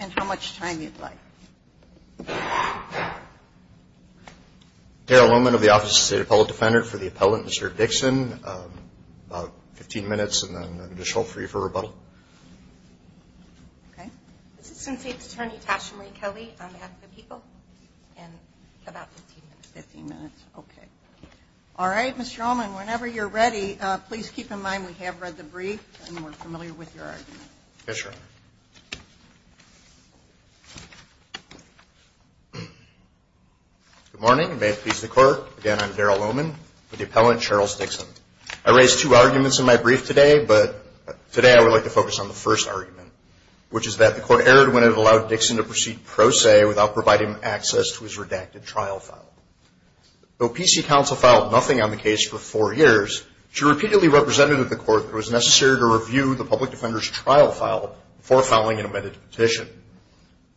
and how much time you'd like. Darryl Loman of the Office of the State Appellate Defender. For the appellant, Mr. Dixon, about 15 minutes and then I can just hold for you for rebuttal. This is Assistant State's Attorney Tasha Marie Kelly on behalf of the people and about 15 minutes. All right, Mr. Loman, whenever you're ready, please keep in mind we have read the brief and we're familiar with your argument. Yes, Your Honor. Good morning and may it please the Court. Again, I'm Darryl Loman with the appellant, Cheryl Dixon. I raised two arguments in my brief today, but today I would like to focus on the first argument, which is that the Court erred when it allowed Dixon to proceed pro se without providing access to his redacted trial file. Though PC counsel filed nothing on the case for four years, she repeatedly represented the Court that it was necessary to review the public defender's trial file before filing an amended petition.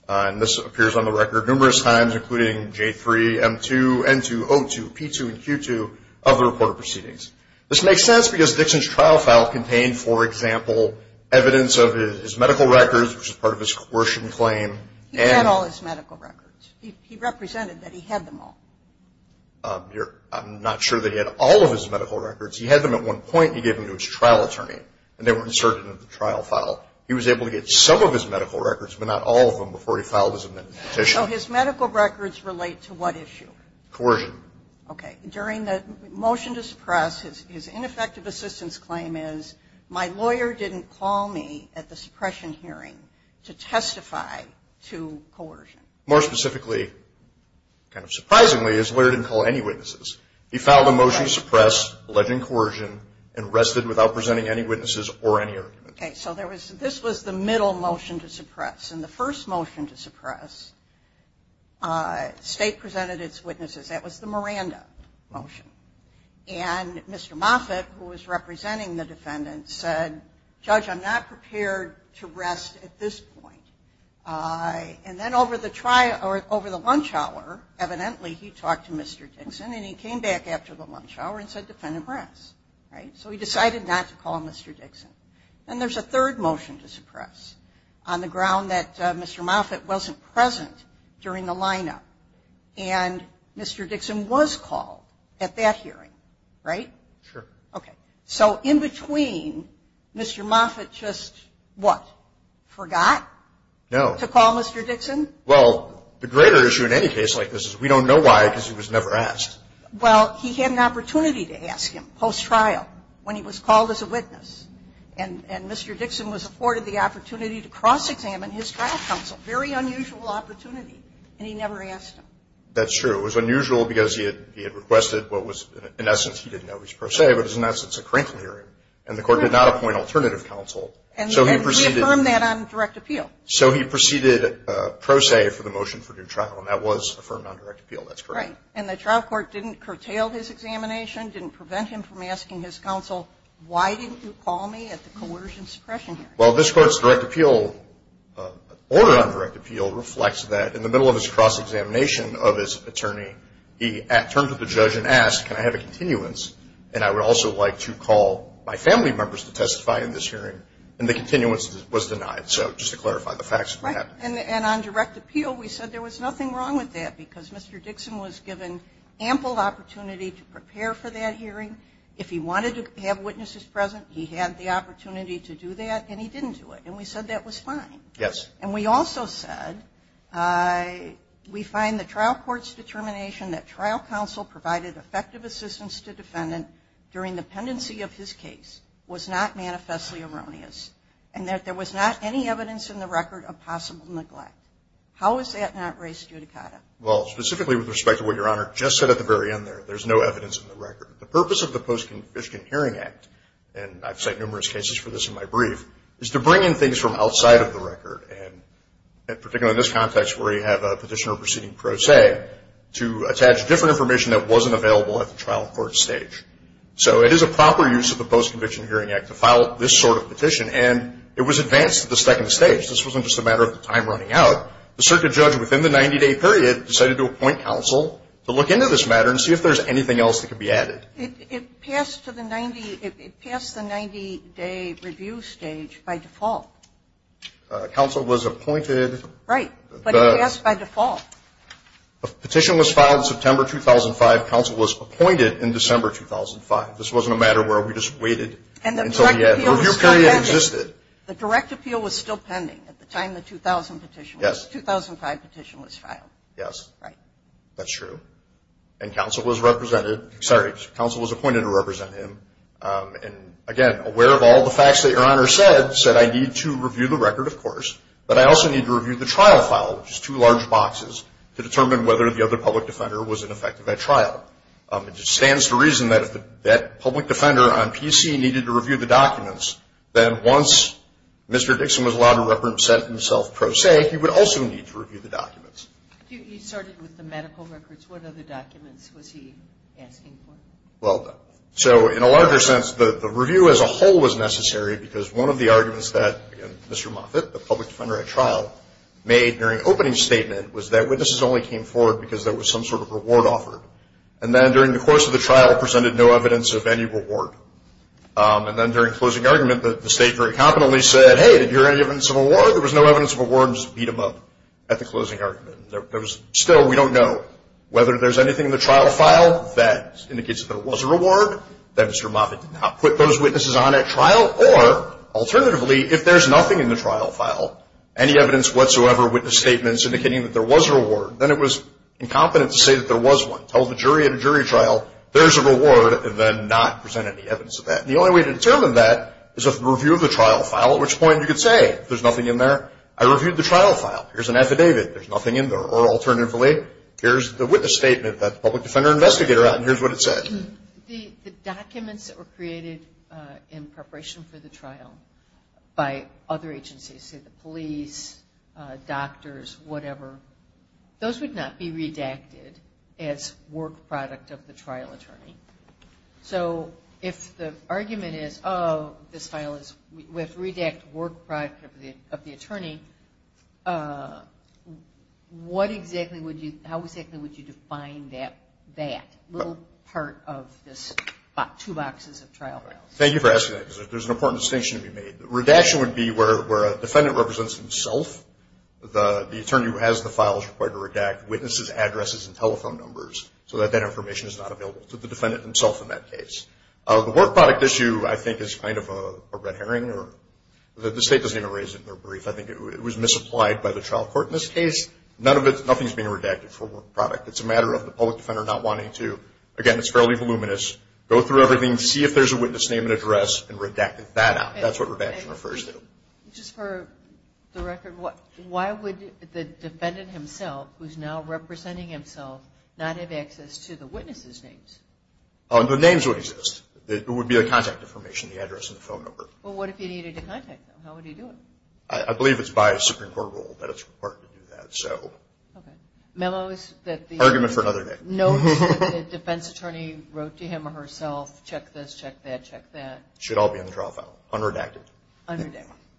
And this appears on the record numerous times, including J3, M2, N2, O2, P2, and Q2 of the reported proceedings. This makes sense because Dixon's trial file contained, for example, evidence of his medical records, which is part of his coercion claim. He had all his medical records. He represented that he had them all. I'm not sure that he had all of his medical records. He had them at one point and he gave them to his trial attorney and they were inserted in the trial file. He was able to get some of his medical records, but not all of them, before he filed his amended petition. So his medical records relate to what issue? Coercion. Okay. During the motion to suppress, his ineffective assistance claim is, my lawyer didn't call me at the suppression hearing to testify to coercion. More specifically, kind of surprisingly, his lawyer didn't call any witnesses. He filed a motion to suppress, alleging coercion, and rested without presenting any witnesses or any arguments. Okay. So this was the middle motion to suppress. And the first motion to suppress, State presented its witnesses. That was the Miranda motion. And Mr. Moffitt, who was representing the defendant, said, Judge, I'm not prepared to rest at this point. And then over the lunch hour, evidently, he talked to Mr. Dixon, and he came back after the lunch hour and said, Defendant, rest. So he decided not to call Mr. Dixon. And there's a third motion to suppress, on the ground that Mr. Moffitt wasn't present during the lineup. And Mr. Dixon was called at that hearing, right? Sure. Okay. So in between, Mr. Moffitt just what? Forgot? No. To call Mr. Dixon? Well, the greater issue in any case like this is we don't know why because he was never asked. Well, he had an opportunity to ask him, post-trial, when he was called as a witness. And Mr. Dixon was afforded the opportunity to cross-examine his trial counsel. Very unusual opportunity. And he never asked him. That's true. It was unusual because he had requested what was, in essence, he didn't know was pro se, but is, in essence, a cranky hearing. And the court did not appoint alternative counsel. And reaffirmed that on direct appeal. So he proceeded pro se for the motion for due trial. And that was affirmed on direct appeal. That's correct. Right. And the trial court didn't curtail his examination, didn't prevent him from asking his counsel, why didn't you call me at the coercion suppression hearing? Well, this court's direct appeal, order on direct appeal, reflects that in the middle of his cross-examination of his attorney, he turned to the judge and asked, can I have a continuance? And I would also like to call my family members to testify in this hearing. And the continuance was denied. So just to clarify the facts of what happened. Right. And on direct appeal, we said there was nothing wrong with that because Mr. Dixon was given ample opportunity to prepare for that hearing. If he wanted to have witnesses present, he had the opportunity to do that. And he didn't do it. And we said that was fine. Yes. And we also said we find the trial court's determination that trial counsel provided effective assistance to defendant during the pendency of his case was not manifestly erroneous and that there was not any evidence in the record of possible neglect. How is that not race judicata? Well, specifically with respect to what Your Honor just said at the very end there, there's no evidence in the record. The purpose of the Post-Conviction Hearing Act, and I've cited numerous cases for this in my brief, is to bring in things from outside of the record, and particularly in this context where you have a petitioner proceeding pro se, to attach different information that wasn't available at the trial court stage. So it is a proper use of the Post-Conviction Hearing Act to file this sort of petition, and it was advanced to the second stage. This wasn't just a matter of the time running out. The circuit judge within the 90-day period decided to appoint counsel to look into this matter and see if there's anything else that could be added. It passed the 90-day review stage by default. Counsel was appointed. Right. But it passed by default. Petition was filed in September 2005. Counsel was appointed in December 2005. This wasn't a matter where we just waited until the end. The review period existed. The direct appeal was still pending at the time the 2000 petition was. Yes. The 2005 petition was filed. Yes. Right. That's true. And counsel was appointed to represent him. And, again, aware of all the facts that Your Honor said, said, I need to review the record, of course, but I also need to review the trial file, which is two large boxes, to determine whether the other public defender was ineffective at trial. It just stands to reason that if that public defender on PC needed to review the documents, then once Mr. Dixon was allowed to represent himself pro se, he would also need to review the documents. You started with the medical records. What other documents was he asking for? Well, so in a larger sense, the review as a whole was necessary because one of the arguments that, again, Mr. Moffitt, the public defender at trial, made during opening statement was that witnesses only came forward because there was some sort of reward offered. And then during the course of the trial presented no evidence of any reward. And then during closing argument, the State very competently said, hey, did you hear any evidence of award? There was no evidence of award and just beat him up at the closing argument. There was still, we don't know, whether there's anything in the trial file that indicates that there was a reward, that Mr. Moffitt did not put those witnesses on at trial, or alternatively, if there's nothing in the trial file, any evidence whatsoever, witness statements indicating that there was a reward, then it was incompetent to say that there was one. Tell the jury at a jury trial, there's a reward, and then not present any evidence of that. And the only way to determine that is if the review of the trial file, at which point you could say, if there's nothing in there, I reviewed the trial file. Here's an affidavit. There's nothing in there. Or alternatively, here's the witness statement that the public defender investigated around, and here's what it said. The documents that were created in preparation for the trial by other agencies, say the police, doctors, whatever, those would not be redacted as work product of the trial attorney. So if the argument is, oh, this file is, we have to redact work product of the attorney, what exactly would you, how exactly would you define that, that little part of this two boxes of trial files? Thank you for asking that, because there's an important distinction to be made. Redaction would be where a defendant represents himself, the attorney who has the files required to redact witnesses' addresses and telephone numbers so that that information is not available to the defendant himself in that case. The work product issue, I think, is kind of a red herring. The state doesn't even raise it in their brief. I think it was misapplied by the trial court in this case. Nothing is being redacted for work product. It's a matter of the public defender not wanting to, again, it's fairly voluminous, go through everything, see if there's a witness name and address, and redact that out. That's what redaction refers to. Just for the record, why would the defendant himself, who's now representing himself, not have access to the witness' names? The names would exist. It would be a contact information, the address and the phone number. Well, what if he needed to contact them? How would he do it? I believe it's by a Supreme Court rule that it's required to do that. Okay. Memos that the- Argument for another day. Notes that the defense attorney wrote to him or herself, check this, check that, check that. Should all be in the trial file, unredacted.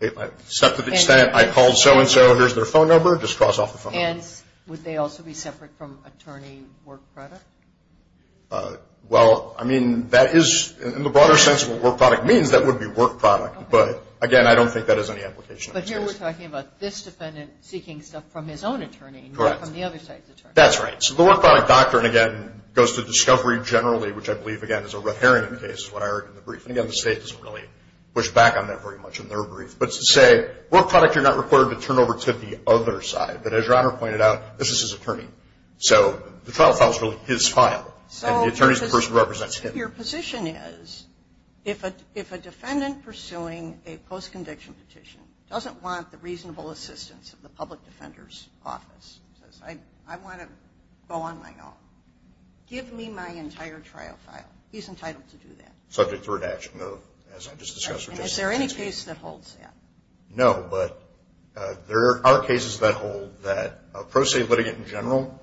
Except to the extent I called so-and-so, here's their phone number, just cross off the phone number. And would they also be separate from attorney work product? Well, I mean, that is, in the broader sense of what work product means, that would be work product. But, again, I don't think that has any application in this case. But here we're talking about this defendant seeking stuff from his own attorney. Correct. Not from the other side's attorney. That's right. So the work product doctrine, again, goes to discovery generally, which I believe, again, is a red herring in this case, is what I heard in the brief. And, again, the state doesn't really push back on that very much in their brief. But to say, work product, you're not required to turn over to the other side. But as Your Honor pointed out, this is his attorney. So the trial file is really his file. So- And the attorney is the person who represents him. Your position is, if a defendant pursuing a post-conviction petition doesn't want the reasonable assistance of the public defender's office, says, I want to go on my own, give me my entire trial file. He's entitled to do that. Subject to redaction, though, as I just discussed. And is there any case that holds that? No. But there are cases that hold that a pro se litigant in general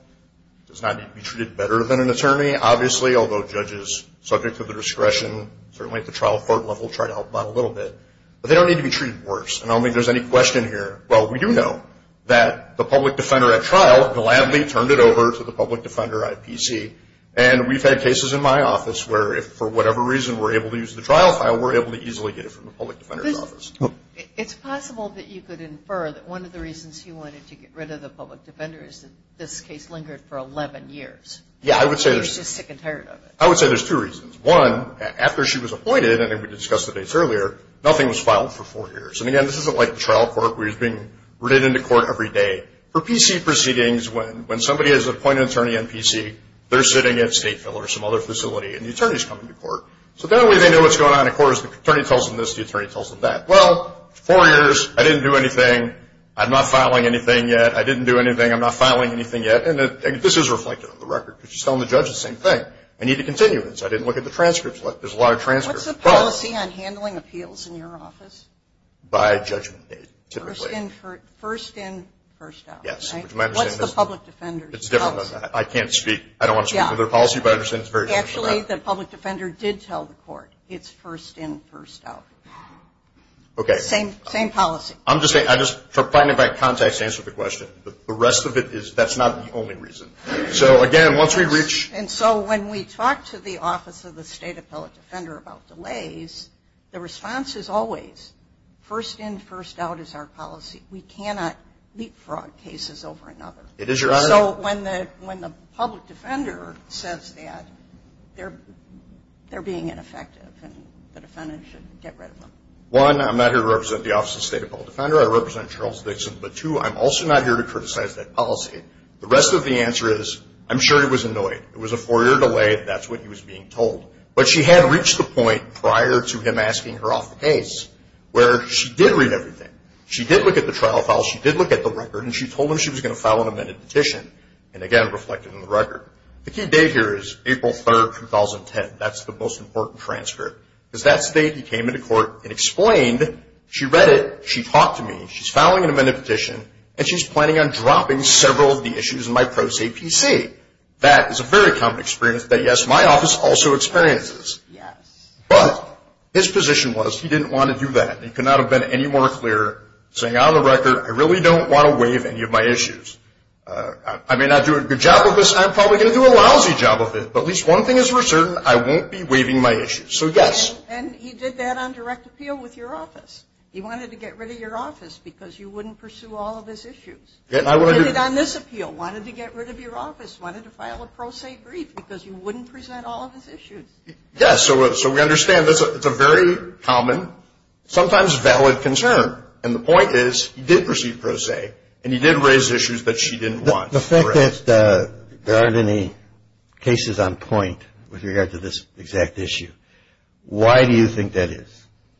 does not need to be treated better than an attorney. Obviously, although judges subject to the discretion, certainly at the trial court level, try to help out a little bit. But they don't need to be treated worse. And I don't think there's any question here. Well, we do know that the public defender at trial gladly turned it over to the public defender at PC. And we've had cases in my office where if for whatever reason we're able to use the trial file, we're able to easily get it from the public defender's office. It's possible that you could infer that one of the reasons he wanted to get rid of the public defender is that this case lingered for 11 years. Yeah, I would say there's- He was just sick and tired of it. I would say there's two reasons. One, after she was appointed, and we discussed the dates earlier, nothing was filed for four years. And, again, this isn't like the trial court where he's being written into court every day. For PC proceedings, when somebody is an appointed attorney on PC, they're sitting at Stateville or some other facility and the attorney's coming to court. So the only way they know what's going on in court is the attorney tells them this, the attorney tells them that. Well, four years, I didn't do anything. I'm not filing anything yet. I didn't do anything. I'm not filing anything yet. And this is reflected on the record because you're telling the judge the same thing. I need to continue this. I didn't look at the transcripts. There's a lot of transcripts. What's the policy on handling appeals in your office? By judgment date, typically. First in, first out, right? Yes. What's the public defender's policy? It's different. I can't speak. I don't want to speak to their policy, but I understand it's very different. Actually, the public defender did tell the court it's first in, first out. Okay. Same policy. I'm just finding the right context to answer the question. The rest of it is, that's not the only reason. So, again, once we reach. And so when we talk to the Office of the State Appellate Defender about delays, the response is always first in, first out is our policy. We cannot leapfrog cases over another. It is, Your Honor. So when the public defender says that, they're being ineffective and the defendant should get rid of them. One, I'm not here to represent the Office of the State Appellate Defender. I represent Charles Dixon. But, two, I'm also not here to criticize that policy. The rest of the answer is, I'm sure he was annoyed. It was a four-year delay. That's what he was being told. But she had reached the point prior to him asking her off the case where she did read everything. She did look at the trial file. She did look at the record. And she told him she was going to file an amended petition. And, again, reflected in the record. The key date here is April 3, 2010. That's the most important transcript. Because that's the date he came into court and explained. She read it. She talked to me. She's filing an amended petition. And she's planning on dropping several of the issues in my pro se PC. That is a very common experience that, yes, my office also experiences. Yes. But his position was he didn't want to do that. He could not have been any more clear, saying, on the record, I really don't want to waive any of my issues. I may not do a good job of this. I'm probably going to do a lousy job of it. But at least one thing is for certain. I won't be waiving my issues. So, yes. And he did that on direct appeal with your office. He wanted to get rid of your office because you wouldn't pursue all of his issues. He did it on this appeal. He wanted to get rid of your office. He wanted to file a pro se brief because you wouldn't present all of his issues. Yes. So we understand it's a very common, sometimes valid concern. And the point is he did pursue pro se, and he did raise issues that she didn't want. The fact that there aren't any cases on point with regard to this exact issue, why do you think that is?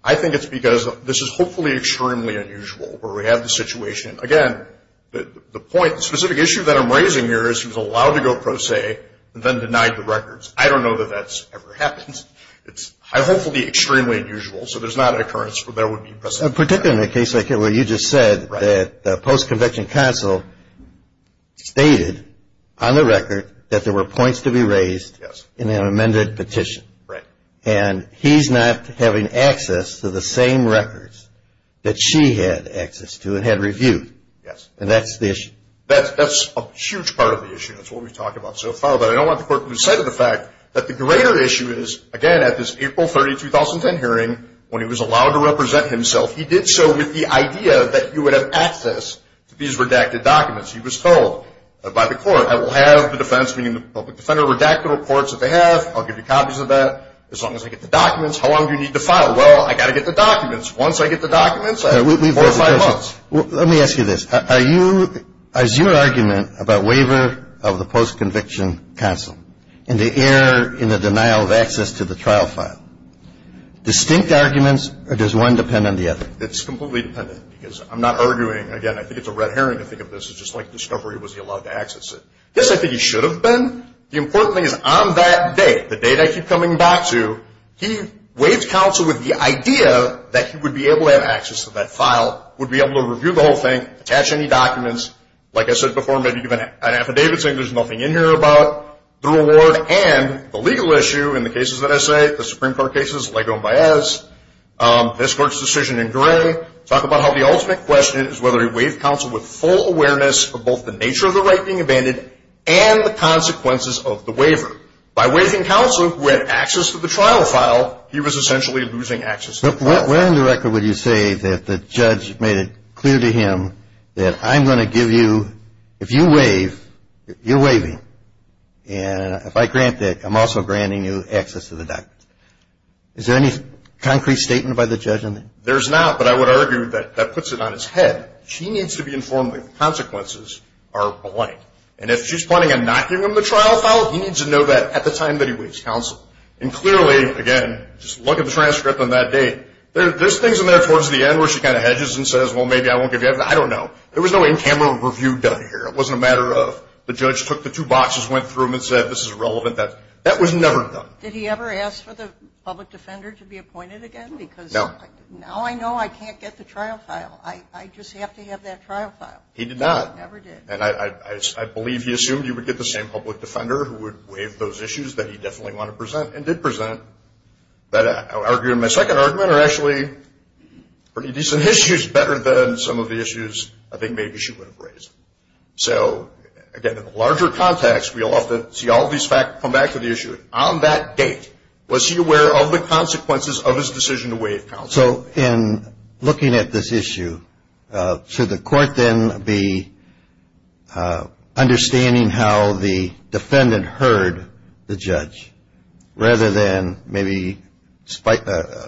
I think it's because this is hopefully extremely unusual where we have the situation. Again, the point, the specific issue that I'm raising here is he was allowed to go pro se and then denied the records. I don't know that that's ever happened. It's hopefully extremely unusual, so there's not an occurrence where there would be precedent. Particularly in a case like where you just said that the post-conviction counsel stated on the record that there were points to be raised in an amended petition. Right. And he's not having access to the same records that she had access to and had reviewed. Yes. And that's the issue. That's a huge part of the issue. That's what we've talked about so far. But I don't want the court to lose sight of the fact that the greater issue is, again, at this April 30, 2010 hearing, when he was allowed to represent himself, he did so with the idea that you would have access to these redacted documents. He was told by the court, I will have the defense, meaning the public defender, redact the reports that they have, I'll give you copies of that. As long as I get the documents, how long do you need to file? Well, I've got to get the documents. Once I get the documents, four or five months. Let me ask you this. Is your argument about waiver of the post-conviction counsel and the error in the denial of access to the trial file distinct arguments or does one depend on the other? It's completely dependent because I'm not arguing. Again, I think it's a red herring to think of this. It's just like discovery. Was he allowed to access it? Yes, I think he should have been. The important thing is on that day, the date I keep coming back to, he waived counsel with the idea that he would be able to have access to that file, would be able to review the whole thing, attach any documents. Like I said before, maybe even an affidavit saying there's nothing in here about the reward and the legal issue in the cases that I say, the Supreme Court cases, Lego and Baez, this court's decision in Gray. Talk about how the ultimate question is whether he waived counsel with full awareness of both the nature of the right being abandoned and the consequences of the waiver. By waiving counsel who had access to the trial file, he was essentially losing access to the trial file. Where in the record would you say that the judge made it clear to him that I'm going to give you, if you waive, you're waiving. And if I grant that, I'm also granting you access to the documents. Is there any concrete statement by the judge on that? There's not, but I would argue that that puts it on his head. She needs to be informed that the consequences are blank, and if she's planning on not giving him the trial file, he needs to know that at the time that he waives counsel. And clearly, again, just look at the transcript on that date. There's things in there towards the end where she kind of hedges and says, well, maybe I won't give you that. I don't know. There was no in-camera review done here. It wasn't a matter of the judge took the two boxes, went through them, and said, this is irrelevant. That was never done. Did he ever ask for the public defender to be appointed again? No. Because now I know I can't get the trial file. I just have to have that trial file. He did not. Never did. And I believe he assumed he would get the same public defender who would waive those issues that he definitely wanted to present and did present. But I would argue in my second argument are actually pretty decent issues, better than some of the issues I think maybe she would have raised. So, again, in the larger context, we'll often see all these facts come back to the issue. On that date, was he aware of the consequences of his decision to waive counsel? So in looking at this issue, should the court then be understanding how the defendant heard the judge, rather than maybe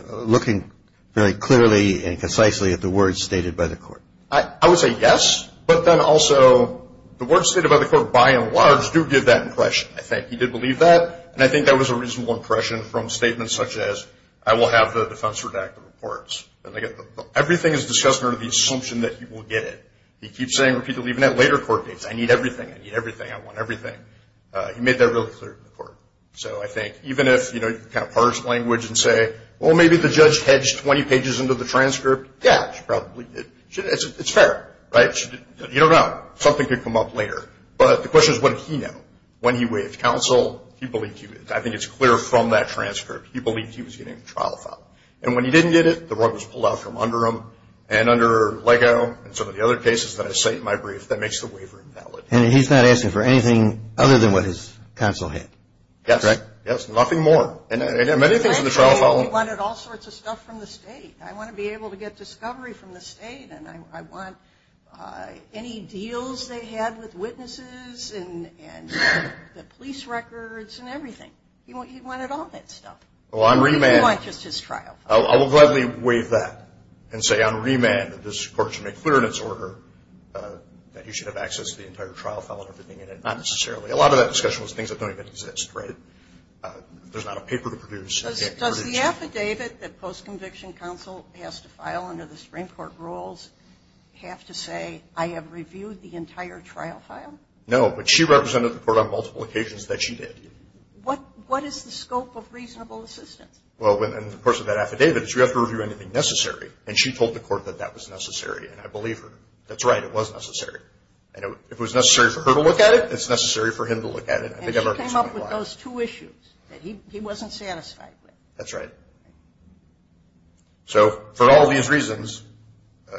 looking very clearly and concisely at the words stated by the court? I would say yes. But then also the words stated by the court by and large do give that impression, I think. He did believe that. And I think that was a reasonable impression from statements such as, I will have the defense redact the reports. Everything is discussed under the assumption that he will get it. He keeps saying repeatedly, even at later court dates, I need everything. I need everything. I want everything. He made that really clear to the court. So I think even if you kind of parse language and say, well, maybe the judge hedged 20 pages into the transcript, yeah, she probably did. It's fair, right? You don't know. Something could come up later. But the question is, what did he know? When he waived counsel, he believed he would. I think it's clear from that transcript. He believed he was getting a trial file. And when he didn't get it, the rug was pulled out from under him and under Lego and some of the other cases that I cite in my brief that makes the waiver invalid. And he's not asking for anything other than what his counsel had, correct? Yes. Nothing more. And many things in the trial file. He wanted all sorts of stuff from the state. I want to be able to get discovery from the state, and I want any deals they had with witnesses and the police records and everything. He wanted all that stuff. He wanted just his trial file. I will gladly waive that and say on remand that this court should make clear in its order that he should have access to the entire trial file and everything in it. Not necessarily. A lot of that discussion was things that don't even exist, right? There's not a paper to produce. Does the affidavit that post-conviction counsel has to file under the Supreme Court rules have to say, I have reviewed the entire trial file? No, but she represented the court on multiple occasions that she did. What is the scope of reasonable assistance? Well, in the course of that affidavit, you have to review anything necessary, and she told the court that that was necessary, and I believe her. That's right. It was necessary. And if it was necessary for her to look at it, it's necessary for him to look at it. And she came up with those two issues that he wasn't satisfied with. That's right. So for all these reasons,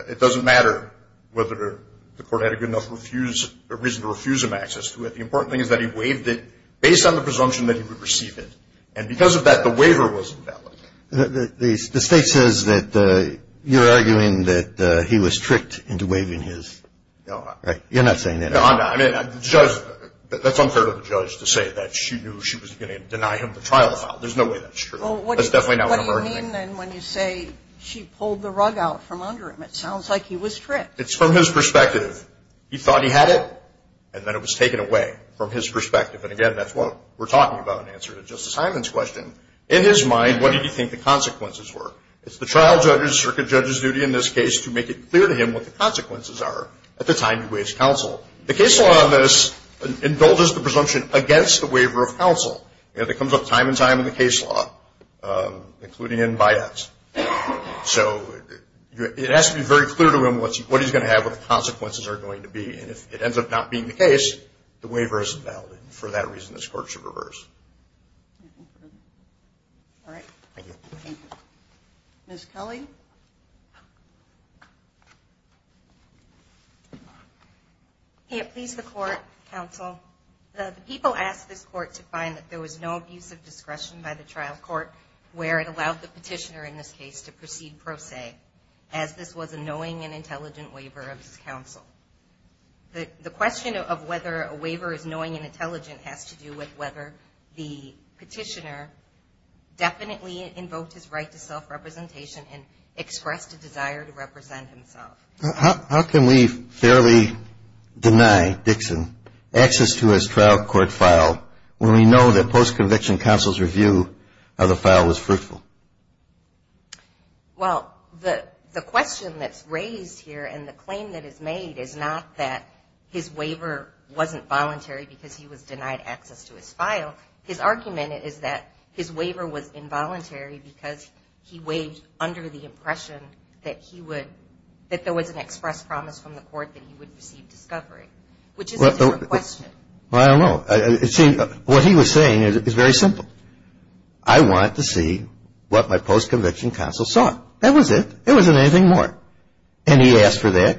it doesn't matter whether the court had a good enough reason to refuse him access to it. The important thing is that he waived it based on the presumption that he would receive it. And because of that, the waiver was invalid. The State says that you're arguing that he was tricked into waiving his. No. You're not saying that, are you? No, I'm not. I mean, the judge, that's unfair to the judge to say that she knew she was going to deny him the trial file. There's no way that's true. That's definitely not what I'm arguing. Well, what do you mean then when you say she pulled the rug out from under him? It sounds like he was tricked. It's from his perspective. He thought he had it, and then it was taken away from his perspective. And, again, that's what we're talking about in answer to Justice Hyman's question. In his mind, what did he think the consequences were? It's the trial judge's or the judge's duty in this case to make it clear to him what the consequences are at the time he waives counsel. The case law on this indulges the presumption against the waiver of counsel. It comes up time and time in the case law, including in BIDACs. So it has to be very clear to him what he's going to have, what the consequences are going to be. And if it ends up not being the case, the waiver isn't valid. And for that reason, this Court should reverse. All right. Thank you. Thank you. Ms. Kelly? I can't please the Court, Counsel. The people asked this Court to find that there was no abuse of discretion by the trial court where it allowed the petitioner in this case to proceed pro se, as this was a knowing and intelligent waiver of his counsel. The question of whether a waiver is knowing and intelligent has to do with whether the petitioner definitely invoked his right to self-representation and expressed a desire to represent himself. How can we fairly deny Dixon access to his trial court file when we know that post-conviction counsel's review of the file was fruitful? Well, the question that's raised here and the claim that is made is not that his waiver wasn't voluntary because he was denied access to his file. His argument is that his waiver was involuntary because he waived under the impression that he would – that there was an express promise from the Court that he would receive discovery, which is a different question. I don't know. What he was saying is very simple. I want to see what my post-conviction counsel saw. That was it. It wasn't anything more. And he asked for that.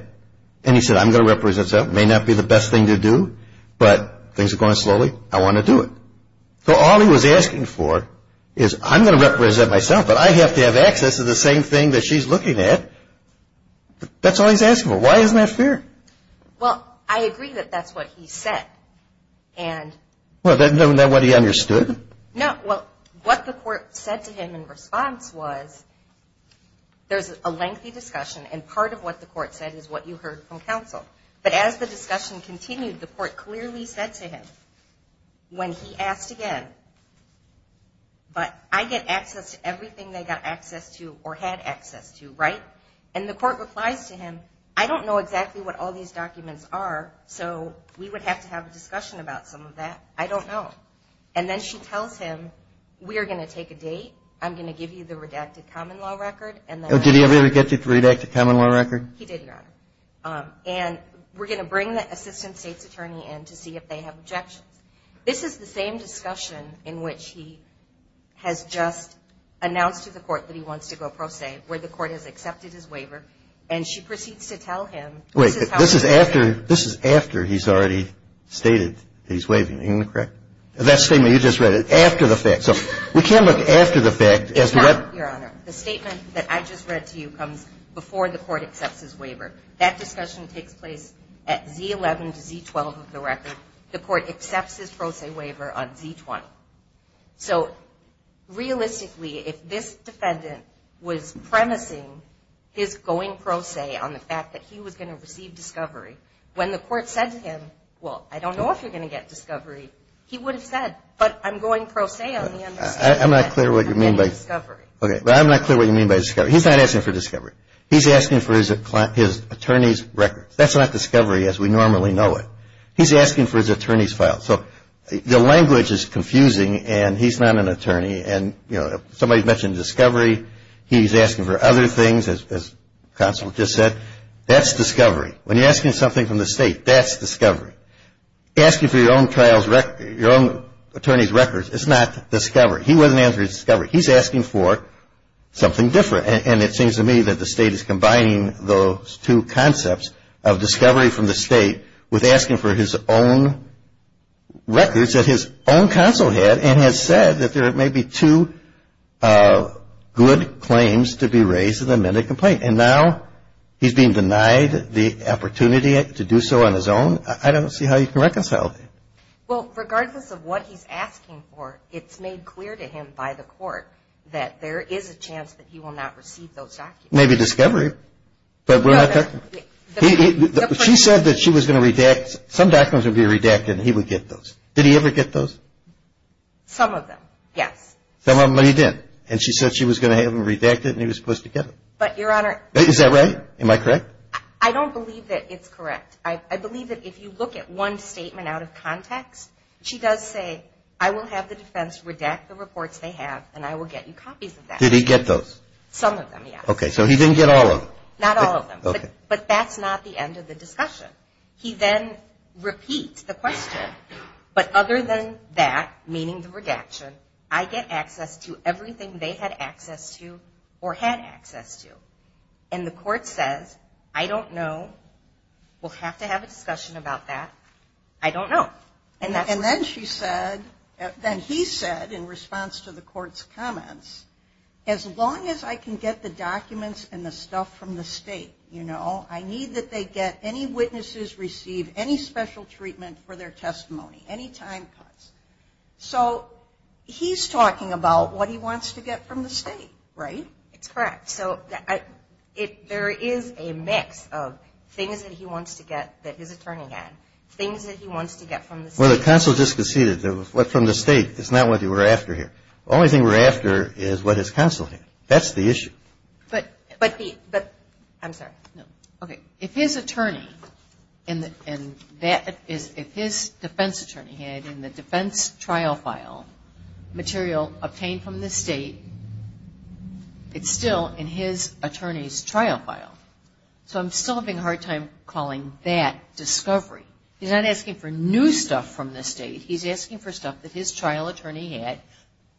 And he said, I'm going to represent myself. It may not be the best thing to do, but things are going slowly. I want to do it. So all he was asking for is I'm going to represent myself, but I have to have access to the same thing that she's looking at. That's all he's asking for. Why isn't that fair? Well, I agree that that's what he said. Well, isn't that what he understood? No. Well, what the Court said to him in response was there's a lengthy discussion, and part of what the Court said is what you heard from counsel. But as the discussion continued, the Court clearly said to him, when he asked again, but I get access to everything they got access to or had access to, right? And the Court replies to him, I don't know exactly what all these documents are, so we would have to have a discussion about some of that. I don't know. And then she tells him, we are going to take a date. I'm going to give you the redacted common law record. Did he ever get you the redacted common law record? He did, Your Honor. And we're going to bring the assistant state's attorney in to see if they have objections. This is the same discussion in which he has just announced to the Court that he wants to go pro se, where the Court has accepted his waiver, and she proceeds to tell him this is how he's going to do it. Wait. This is after he's already stated that he's waiving. Am I correct? That statement, you just read it. After the fact. So we can't look after the fact as to what. No, Your Honor. The statement that I just read to you comes before the Court accepts his waiver. That discussion takes place at Z11 to Z12 of the record. The Court accepts his pro se waiver on Z20. So realistically, if this defendant was premising his going pro se on the fact that he was going to receive discovery, when the Court said to him, well, I don't know if you're going to get discovery, he would have said, but I'm going pro se on the understanding that I'm getting discovery. I'm not clear what you mean by discovery. He's not asking for discovery. He's asking for his attorney's record. That's not discovery as we normally know it. He's asking for his attorney's file. So the language is confusing, and he's not an attorney. And, you know, somebody mentioned discovery. He's asking for other things, as counsel just said. That's discovery. When you're asking something from the State, that's discovery. Asking for your own attorney's records is not discovery. He wasn't answering discovery. He's asking for something different. And it seems to me that the State is combining those two concepts of discovery from the State with asking for his own records that his own counsel had, and has said that there may be two good claims to be raised in the amended complaint. And now he's being denied the opportunity to do so on his own. I don't see how you can reconcile that. Well, regardless of what he's asking for, it's made clear to him by the Court that there is a chance that he will not receive those documents. Maybe discovery. But she said that she was going to redact. Some documents would be redacted, and he would get those. Did he ever get those? Some of them, yes. Some of them, but he didn't. And she said she was going to have them redacted, and he was supposed to get them. But, Your Honor. Is that right? Am I correct? I don't believe that it's correct. I believe that if you look at one statement out of context, she does say, I will have the defense redact the reports they have, and I will get you copies of that. Did he get those? Some of them, yes. Okay, so he didn't get all of them. Not all of them. Okay. But that's not the end of the discussion. He then repeats the question, but other than that, meaning the redaction, I get access to everything they had access to or had access to. And the Court says, I don't know. We'll have to have a discussion about that. I don't know. And then she said, then he said in response to the Court's comments, as long as I can get the documents and the stuff from the State, you know, I need that they get any witnesses receive any special treatment for their testimony, any time cuts. So he's talking about what he wants to get from the State, right? That's correct. So there is a mix of things that he wants to get that his attorney had, things that he wants to get from the State. Well, the counsel just conceded what from the State. It's not what you were after here. The only thing we're after is what his counsel had. That's the issue. But the – I'm sorry. Okay. If his attorney and that is if his defense attorney had in the defense trial file material obtained from the State, it's still in his attorney's trial file. So I'm still having a hard time calling that discovery. He's not asking for new stuff from the State. He's asking for stuff that his trial attorney had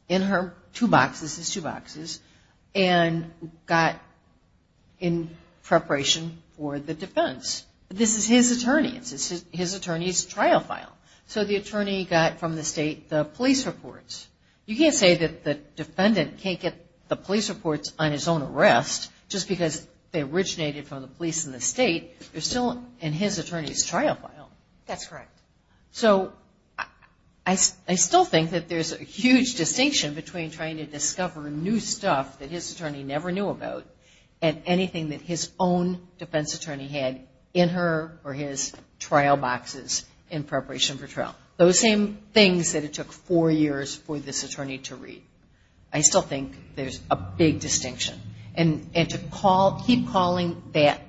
in her two boxes, his two boxes, and got in preparation for the defense. This is his attorney. This is his attorney's trial file. So the attorney got from the State the police reports. You can't say that the defendant can't get the police reports on his own arrest just because they originated from the police in the State. They're still in his attorney's trial file. That's correct. So I still think that there's a huge distinction between trying to discover new stuff that his attorney never knew about and anything that his own defense attorney had in her or his trial boxes in preparation for trial. Those same things that it took four years for this attorney to read. I still think there's a big distinction. And to keep calling that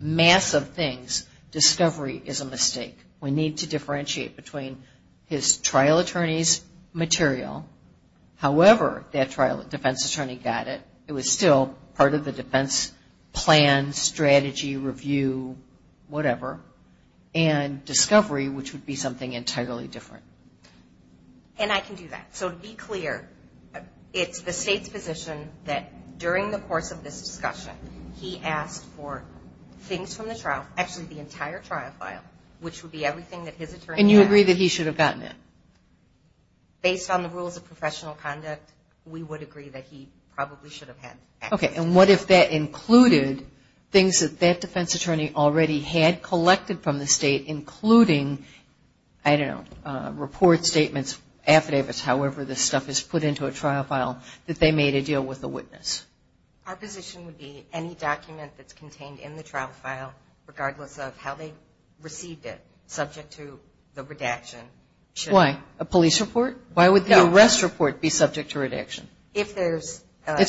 mass of things discovery is a mistake. We need to differentiate between his trial attorney's material, however that trial defense attorney got it, it was still part of the defense plan, strategy, review, whatever, and discovery, which would be something entirely different. And I can do that. So to be clear, it's the State's position that during the course of this discussion, he asked for things from the trial, actually the entire trial file, which would be everything that his attorney had. And you agree that he should have gotten it? Based on the rules of professional conduct, we would agree that he probably should have had it. Okay. And what if that included things that that defense attorney already had collected from the State, including, I don't know, reports, statements, affidavits, however this stuff is put into a trial file, that they made a deal with the witness? Our position would be any document that's contained in the trial file, regardless of how they received it, subject to the redaction. Why? A police report? No. Why would the arrest report be subject to redaction? It's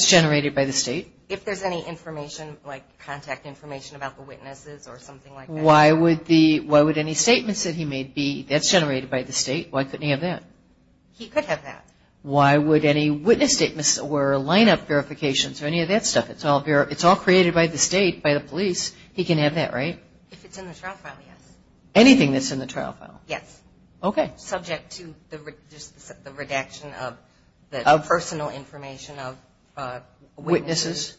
generated by the State. If there's any information, like contact information about the witnesses or something like that. Why would any statements that he made be, that's generated by the State, why couldn't he have that? He could have that. Why would any witness statements or line-up verifications or any of that stuff, it's all created by the State, by the police, he can have that, right? If it's in the trial file, yes. Anything that's in the trial file? Yes. Okay. Subject to the redaction of personal information of witnesses.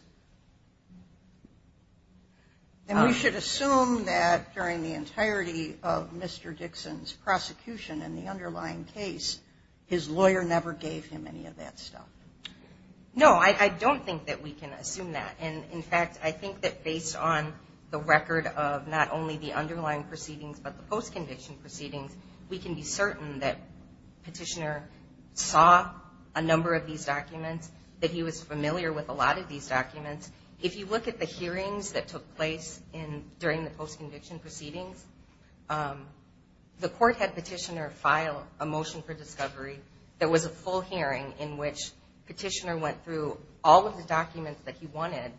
And we should assume that during the entirety of Mr. Dixon's prosecution and the underlying case, his lawyer never gave him any of that stuff. No, I don't think that we can assume that. And, in fact, I think that based on the record of not only the underlying proceedings but the post-conviction proceedings, we can be certain that Petitioner saw a number of these documents, that he was familiar with a lot of these documents. If you look at the hearings that took place during the post-conviction proceedings, the court had Petitioner file a motion for discovery that was a full hearing in which Petitioner went through all of the documents that he wanted,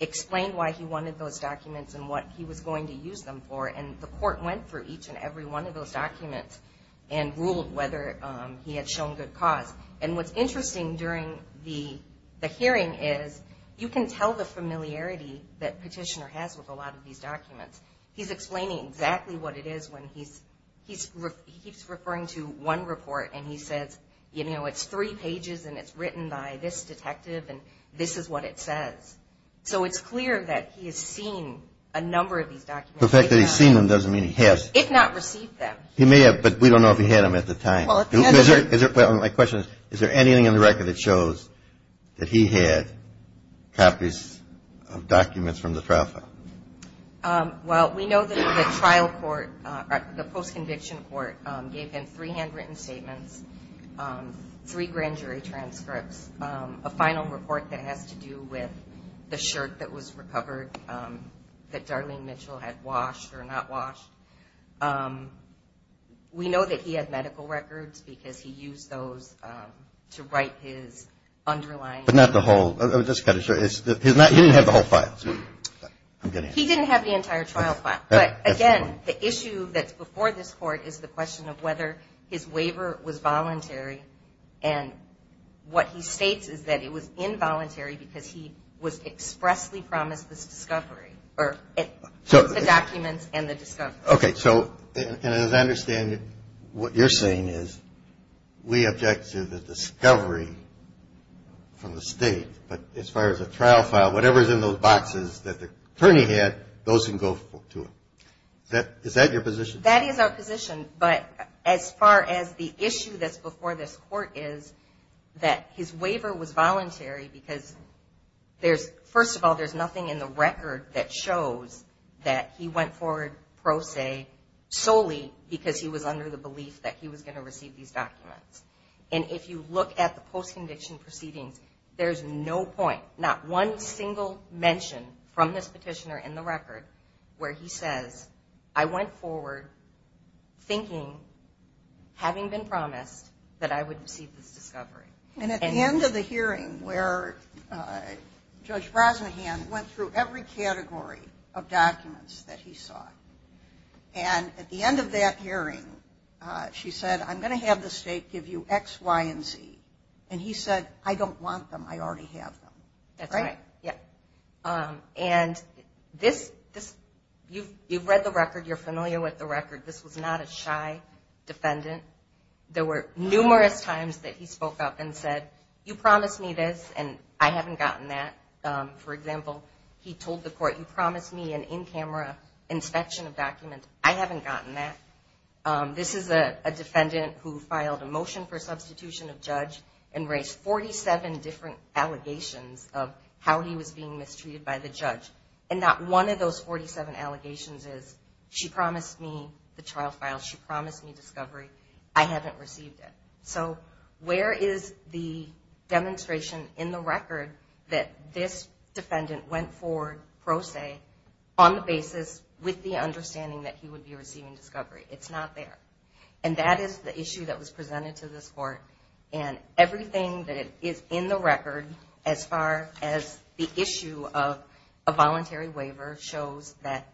explained why he wanted those documents and what he was going to use them for, and the court went through each and every one of those documents and ruled whether he had shown good cause. And what's interesting during the hearing is you can tell the familiarity that Petitioner has with a lot of these documents. He's explaining exactly what it is when he's referring to one report and he says, you know, it's three pages and it's written by this detective and this is what it says. So it's clear that he has seen a number of these documents. The fact that he's seen them doesn't mean he has. If not received them. He may have, but we don't know if he had them at the time. My question is, is there anything in the record that shows that he had copies of documents from the trial file? Well, we know that the trial court, the post-conviction court, gave him three handwritten statements, three grand jury transcripts, a final report that has to do with the shirt that was recovered, that Darlene Mitchell had washed or not washed. We know that he had medical records because he used those to write his underlying. But not the whole. He didn't have the whole file. He didn't have the entire trial file. But, again, the issue that's before this court is the question of whether his waiver was voluntary and what he states is that it was involuntary because he was expressly promised this discovery or the documents and the discovery. Okay. So, and as I understand it, what you're saying is we object to the discovery from the state, but as far as the trial file, whatever's in those boxes that the attorney had, those can go to him. Is that your position? That is our position. But as far as the issue that's before this court is that his waiver was voluntary because there's, first of all, there's nothing in the record that shows that he went forward pro se solely because he was under the belief that he was going to receive these documents. And if you look at the post-conviction proceedings, there's no point, not one single mention from this petitioner in the record where he says, I went forward thinking, having been promised, that I would receive this discovery. And at the end of the hearing where Judge Brosnahan went through every category of documents that he saw, and at the end of that hearing she said, I'm going to have the state give you X, Y, and Z. And he said, I don't want them. I already have them. That's right. Right? Yeah. And this, you've read the record. You're familiar with the record. This was not a shy defendant. There were numerous times that he spoke up and said, you promised me this, and I haven't gotten that. For example, he told the court, you promised me an in-camera inspection of documents. I haven't gotten that. This is a defendant who filed a motion for substitution of judge and raised 47 different allegations of how he was being mistreated by the judge. And not one of those 47 allegations is, she promised me the trial file. She promised me discovery. I haven't received it. So where is the demonstration in the record that this defendant went forward, pro se, on the basis with the understanding that he would be receiving discovery? It's not there. And that is the issue that was presented to this court. And everything that is in the record, as far as the issue of a voluntary waiver, shows that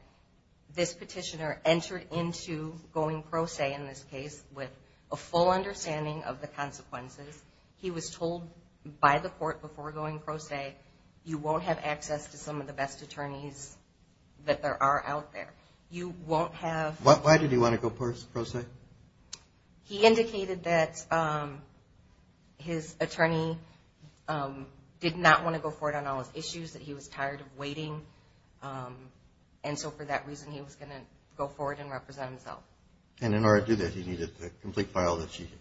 this petitioner entered into going pro se in this case with a full understanding of the consequences. He was told by the court before going pro se, you won't have access to some of the best attorneys that there are out there. You won't have – Why did he want to go pro se? He indicated that his attorney did not want to go forward on all his issues, that he was tired of waiting. And so for that reason, he was going to go forward and represent himself. And in order to do that, he needed the complete file that she had.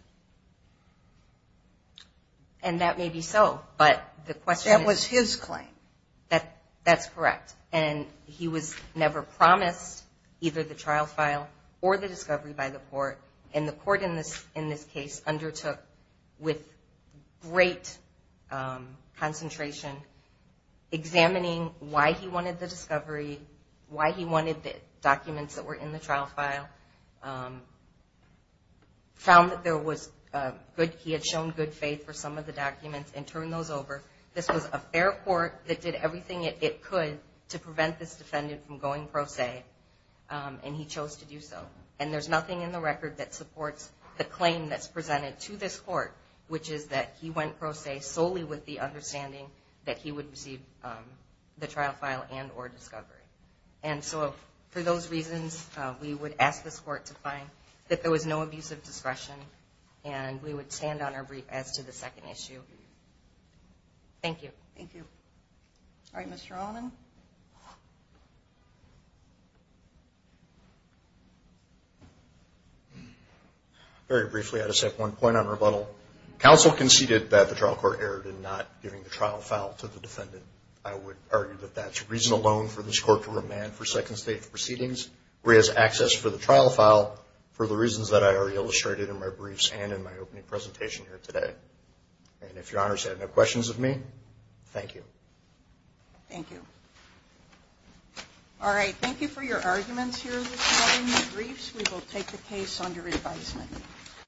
And that may be so, but the question is – That was his claim. That's correct. And he was never promised either the trial file or the discovery by the court. And the court in this case undertook with great concentration, examining why he wanted the discovery, why he wanted the documents that were in the trial file, found that he had shown good faith for some of the documents, and turned those over. This was a fair court that did everything it could to prevent this defendant from going pro se, and he chose to do so. And there's nothing in the record that supports the claim that's presented to this court, which is that he went pro se solely with the understanding that he would receive the trial file and or discovery. And so for those reasons, we would ask this court to find that there was no abuse of discretion, and we would stand on our brief as to the second issue. Thank you. Thank you. All right, Mr. Allman. Very briefly, I just have one point on rebuttal. Counsel conceded that the trial court erred in not giving the trial file to the defendant. I would argue that that's reason alone for this court to remand for second state proceedings where it has access for the trial file for the reasons that I already illustrated in my briefs and in my opening presentation here today. And if Your Honors have no questions of me, thank you. Thank you. All right, thank you for your arguments here regarding the briefs. We will take the case under advisement.